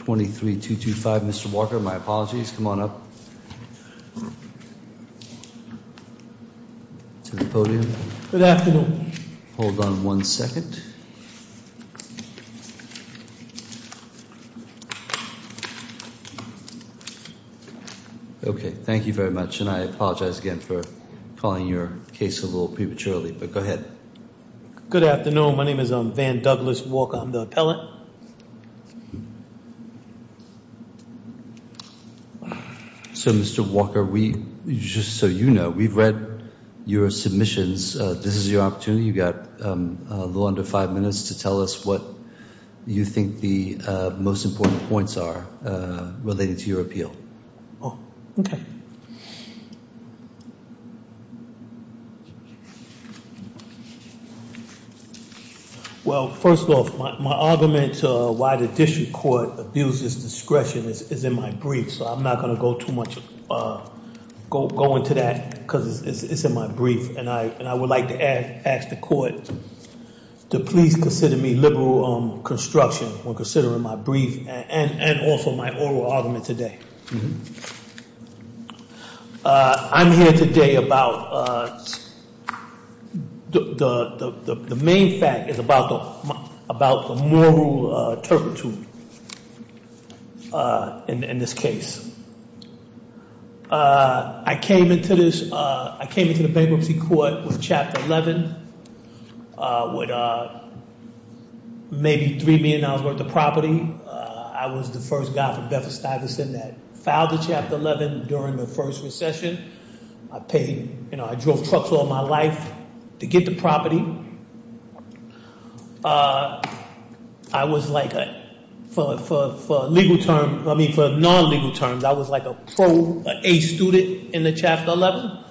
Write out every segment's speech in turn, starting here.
23-225. Mr. Walker, my apologies. Come on up to the podium. Good afternoon. Hold on one second. Okay. Thank you very much. And I apologize again for calling your case a little prematurely, but go ahead. Good afternoon. My name is Van Douglas Walker. I'm the appellant. So, Mr. Walker, just so you know, we've read your submissions. This is your opportunity. You've got a little under five minutes to tell us what you think the most important points are related to your appeal. Okay. Well, first off, my argument why the district court abuses discretion is in my brief, so I'm not going to go into that because it's in my brief. And I would like to ask the court to please consider me liberal construction when considering my brief and also my oral argument today. I'm here today about the main fact is about the moral turpitude in this case. I came into the bankruptcy court with Chapter 11 with maybe $3 million worth of property. I was the first guy from Bedford-Stuyvesant that filed the Chapter 11 during the first recession. I drove trucks all my life to get the property. I was like, for legal terms, I mean for non-legal terms, I was like a pro, an A student in the Chapter 11.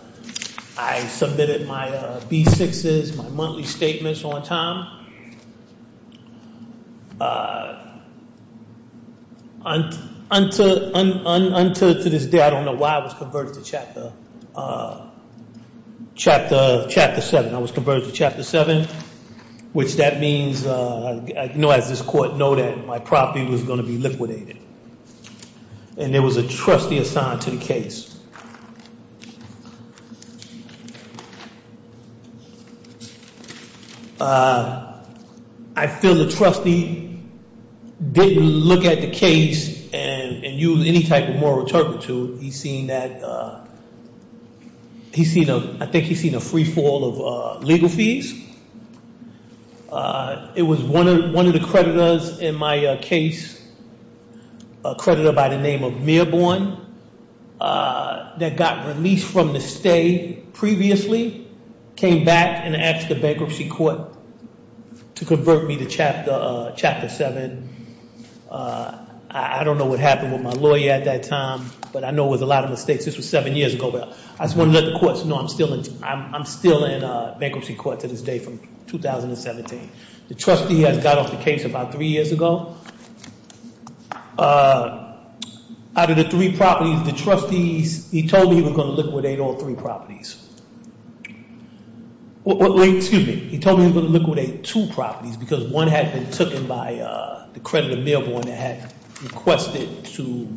I submitted my B-6s, my monthly statements on time. Unto this day, I don't know why I was converted to Chapter 7. I was converted to Chapter 7, which that means, as this court noted, my property was going to be liquidated. And there was a trustee assigned to the case. I feel the trustee didn't look at the case and use any type of moral turpitude. He's seen that he's seen a I think he's seen a free fall of legal fees. It was one of the creditors in my case, a creditor by the name of Mearborn, that got released from the stay previously, came back and asked the bankruptcy court to convert me to Chapter 7. I don't know what happened with my lawyer at that time, but I know it was a lot of mistakes. This was seven years ago. I just want to let the courts know I'm still in bankruptcy court to this day from 2017. The trustee has got off the case about three years ago. Out of the three properties, the trustees, he told me he was going to liquidate all three properties. Excuse me. He told me he was going to liquidate two properties because one had been taken by the creditor, Mearborn, that had requested to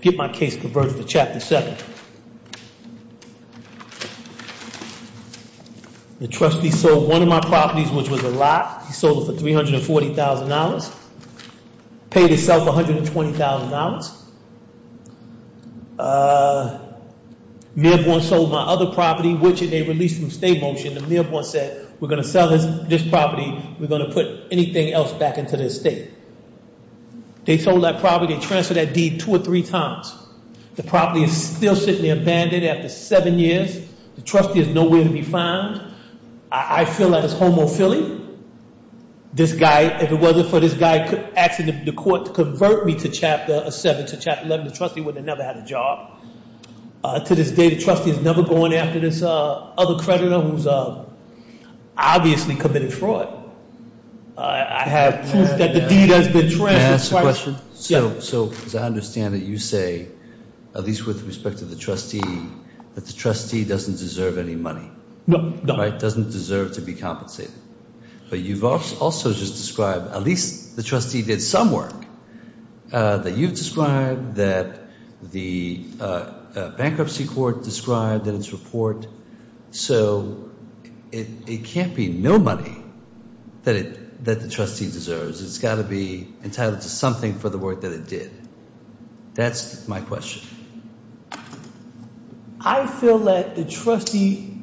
get my case converted to Chapter 7. The trustee sold one of my properties, which was a lot. He sold it for $340,000, paid himself $120,000. Mearborn sold my other property, which they released from stay motion. The Mearborn said, we're going to sell this property. We're going to put anything else back into the estate. They sold that property. They transferred that deed two or three times. The property is still sitting there abandoned after seven years. The trustee is nowhere to be found. I feel that it's homophily. This guy, if it wasn't for this guy asking the court to convert me to Chapter 7 or Chapter 11, the trustee would have never had a job. To this day, the trustee is never going after this other creditor who's obviously committed fraud. I have proof that the deed has been transferred. Can I ask a question? Yes. So as I understand it, you say, at least with respect to the trustee, that the trustee doesn't deserve any money. No, no. Right? Doesn't deserve to be compensated. But you've also just described, at least the trustee did some work that you've described, that the bankruptcy court described in its report. So it can't be no money that the trustee deserves. It's got to be entitled to something for the work that it did. That's my question. I feel that the trustee,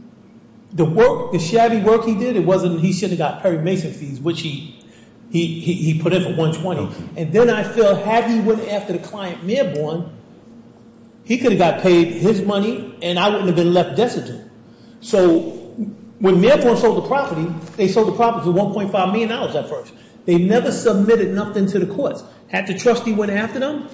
the work, the shabby work he did, it wasn't he should have got Perry Mason fees, which he put in for $120,000. And then I feel had he went after the client, Mearborn, he could have got paid his money, and I wouldn't have been left deserted. So when Mearborn sold the property, they sold the property for $1.5 million at first. They never submitted nothing to the courts. Had the trustee went after them?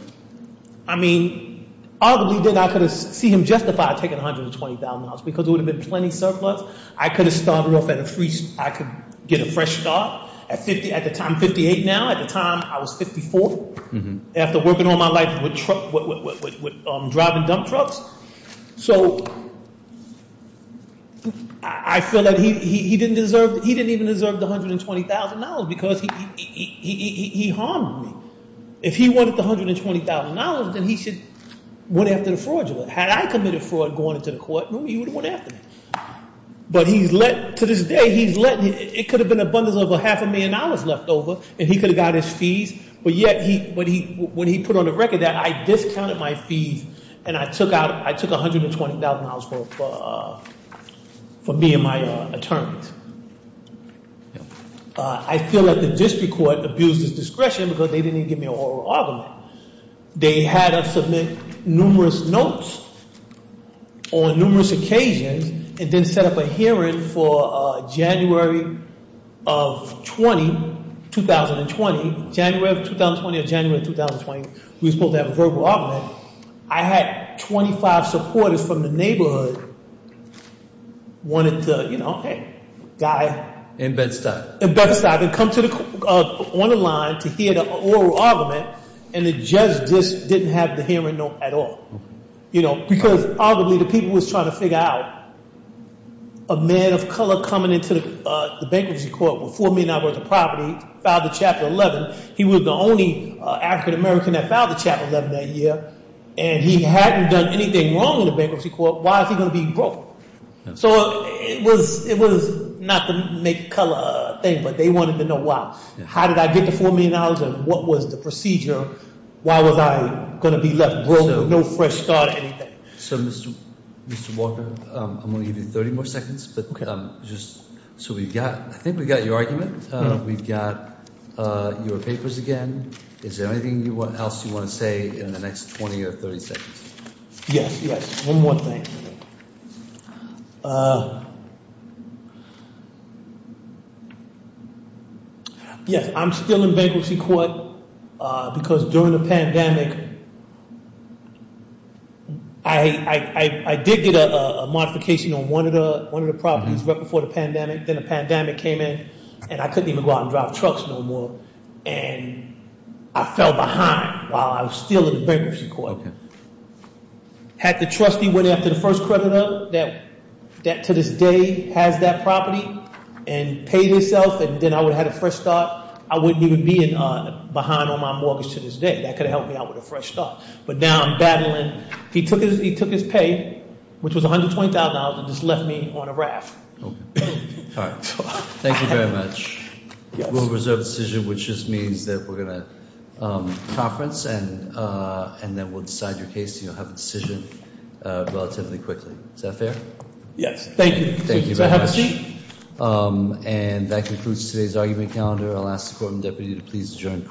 I mean, other than that, I could have seen him justified taking $120,000 because it would have been plenty surplus. I could have started off at a free start. I could get a fresh start at the time, 58 now. At the time, I was 54. After working all my life with driving dump trucks. So I feel that he didn't even deserve the $120,000 because he harmed me. If he wanted the $120,000, then he should have went after the fraudulent. Had I committed fraud going into the court room, he would have went after me. But to this day, it could have been an abundance of a half a million dollars left over, and he could have got his fees. But yet, when he put on the record that, I discounted my fees, and I took $120,000 for me and my attorneys. I feel that the district court abused his discretion because they didn't even give me an oral argument. They had us submit numerous notes on numerous occasions, and then set up a hearing for January of 2020. January of 2020 or January of 2020. We were supposed to have a verbal argument. I had 25 supporters from the neighborhood wanted to, you know, hey, guy. In Bed-Stuy. In Bed-Stuy. And come on the line to hear the oral argument, and the judge just didn't have the hearing note at all. Because, arguably, the people was trying to figure out a man of color coming into the bankruptcy court with $4 million worth of property, filed the Chapter 11. He was the only African American that filed the Chapter 11 that year, and he hadn't done anything wrong in the bankruptcy court. Why is he going to be broke? So, it was not the make color thing, but they wanted to know why. How did I get the $4 million, and what was the procedure? Why was I going to be left broke with no fresh start or anything? So, Mr. Walker, I'm going to give you 30 more seconds. Okay. So, we've got, I think we've got your argument. We've got your papers again. Is there anything else you want to say in the next 20 or 30 seconds? Yes, yes. One more thing. Yes, I'm still in bankruptcy court, because during the pandemic, I did get a modification on one of the properties right before the pandemic. Then the pandemic came in, and I couldn't even go out and drive trucks no more, and I fell behind while I was still in the bankruptcy court. Okay. Had the trustee went after the first creditor that to this day has that property and paid himself, and then I would have had a fresh start, I wouldn't even be behind on my mortgage to this day. That could have helped me out with a fresh start, but now I'm battling. He took his pay, which was $120,000, and just left me on a raft. Okay. All right. Thank you very much. We'll reserve the decision, which just means that we're going to conference, and then we'll decide your case. You'll have a decision relatively quickly. Is that fair? Yes. Thank you. Thank you very much. Have a seat. And that concludes today's argument calendar. I'll ask the court and deputy to please adjourn.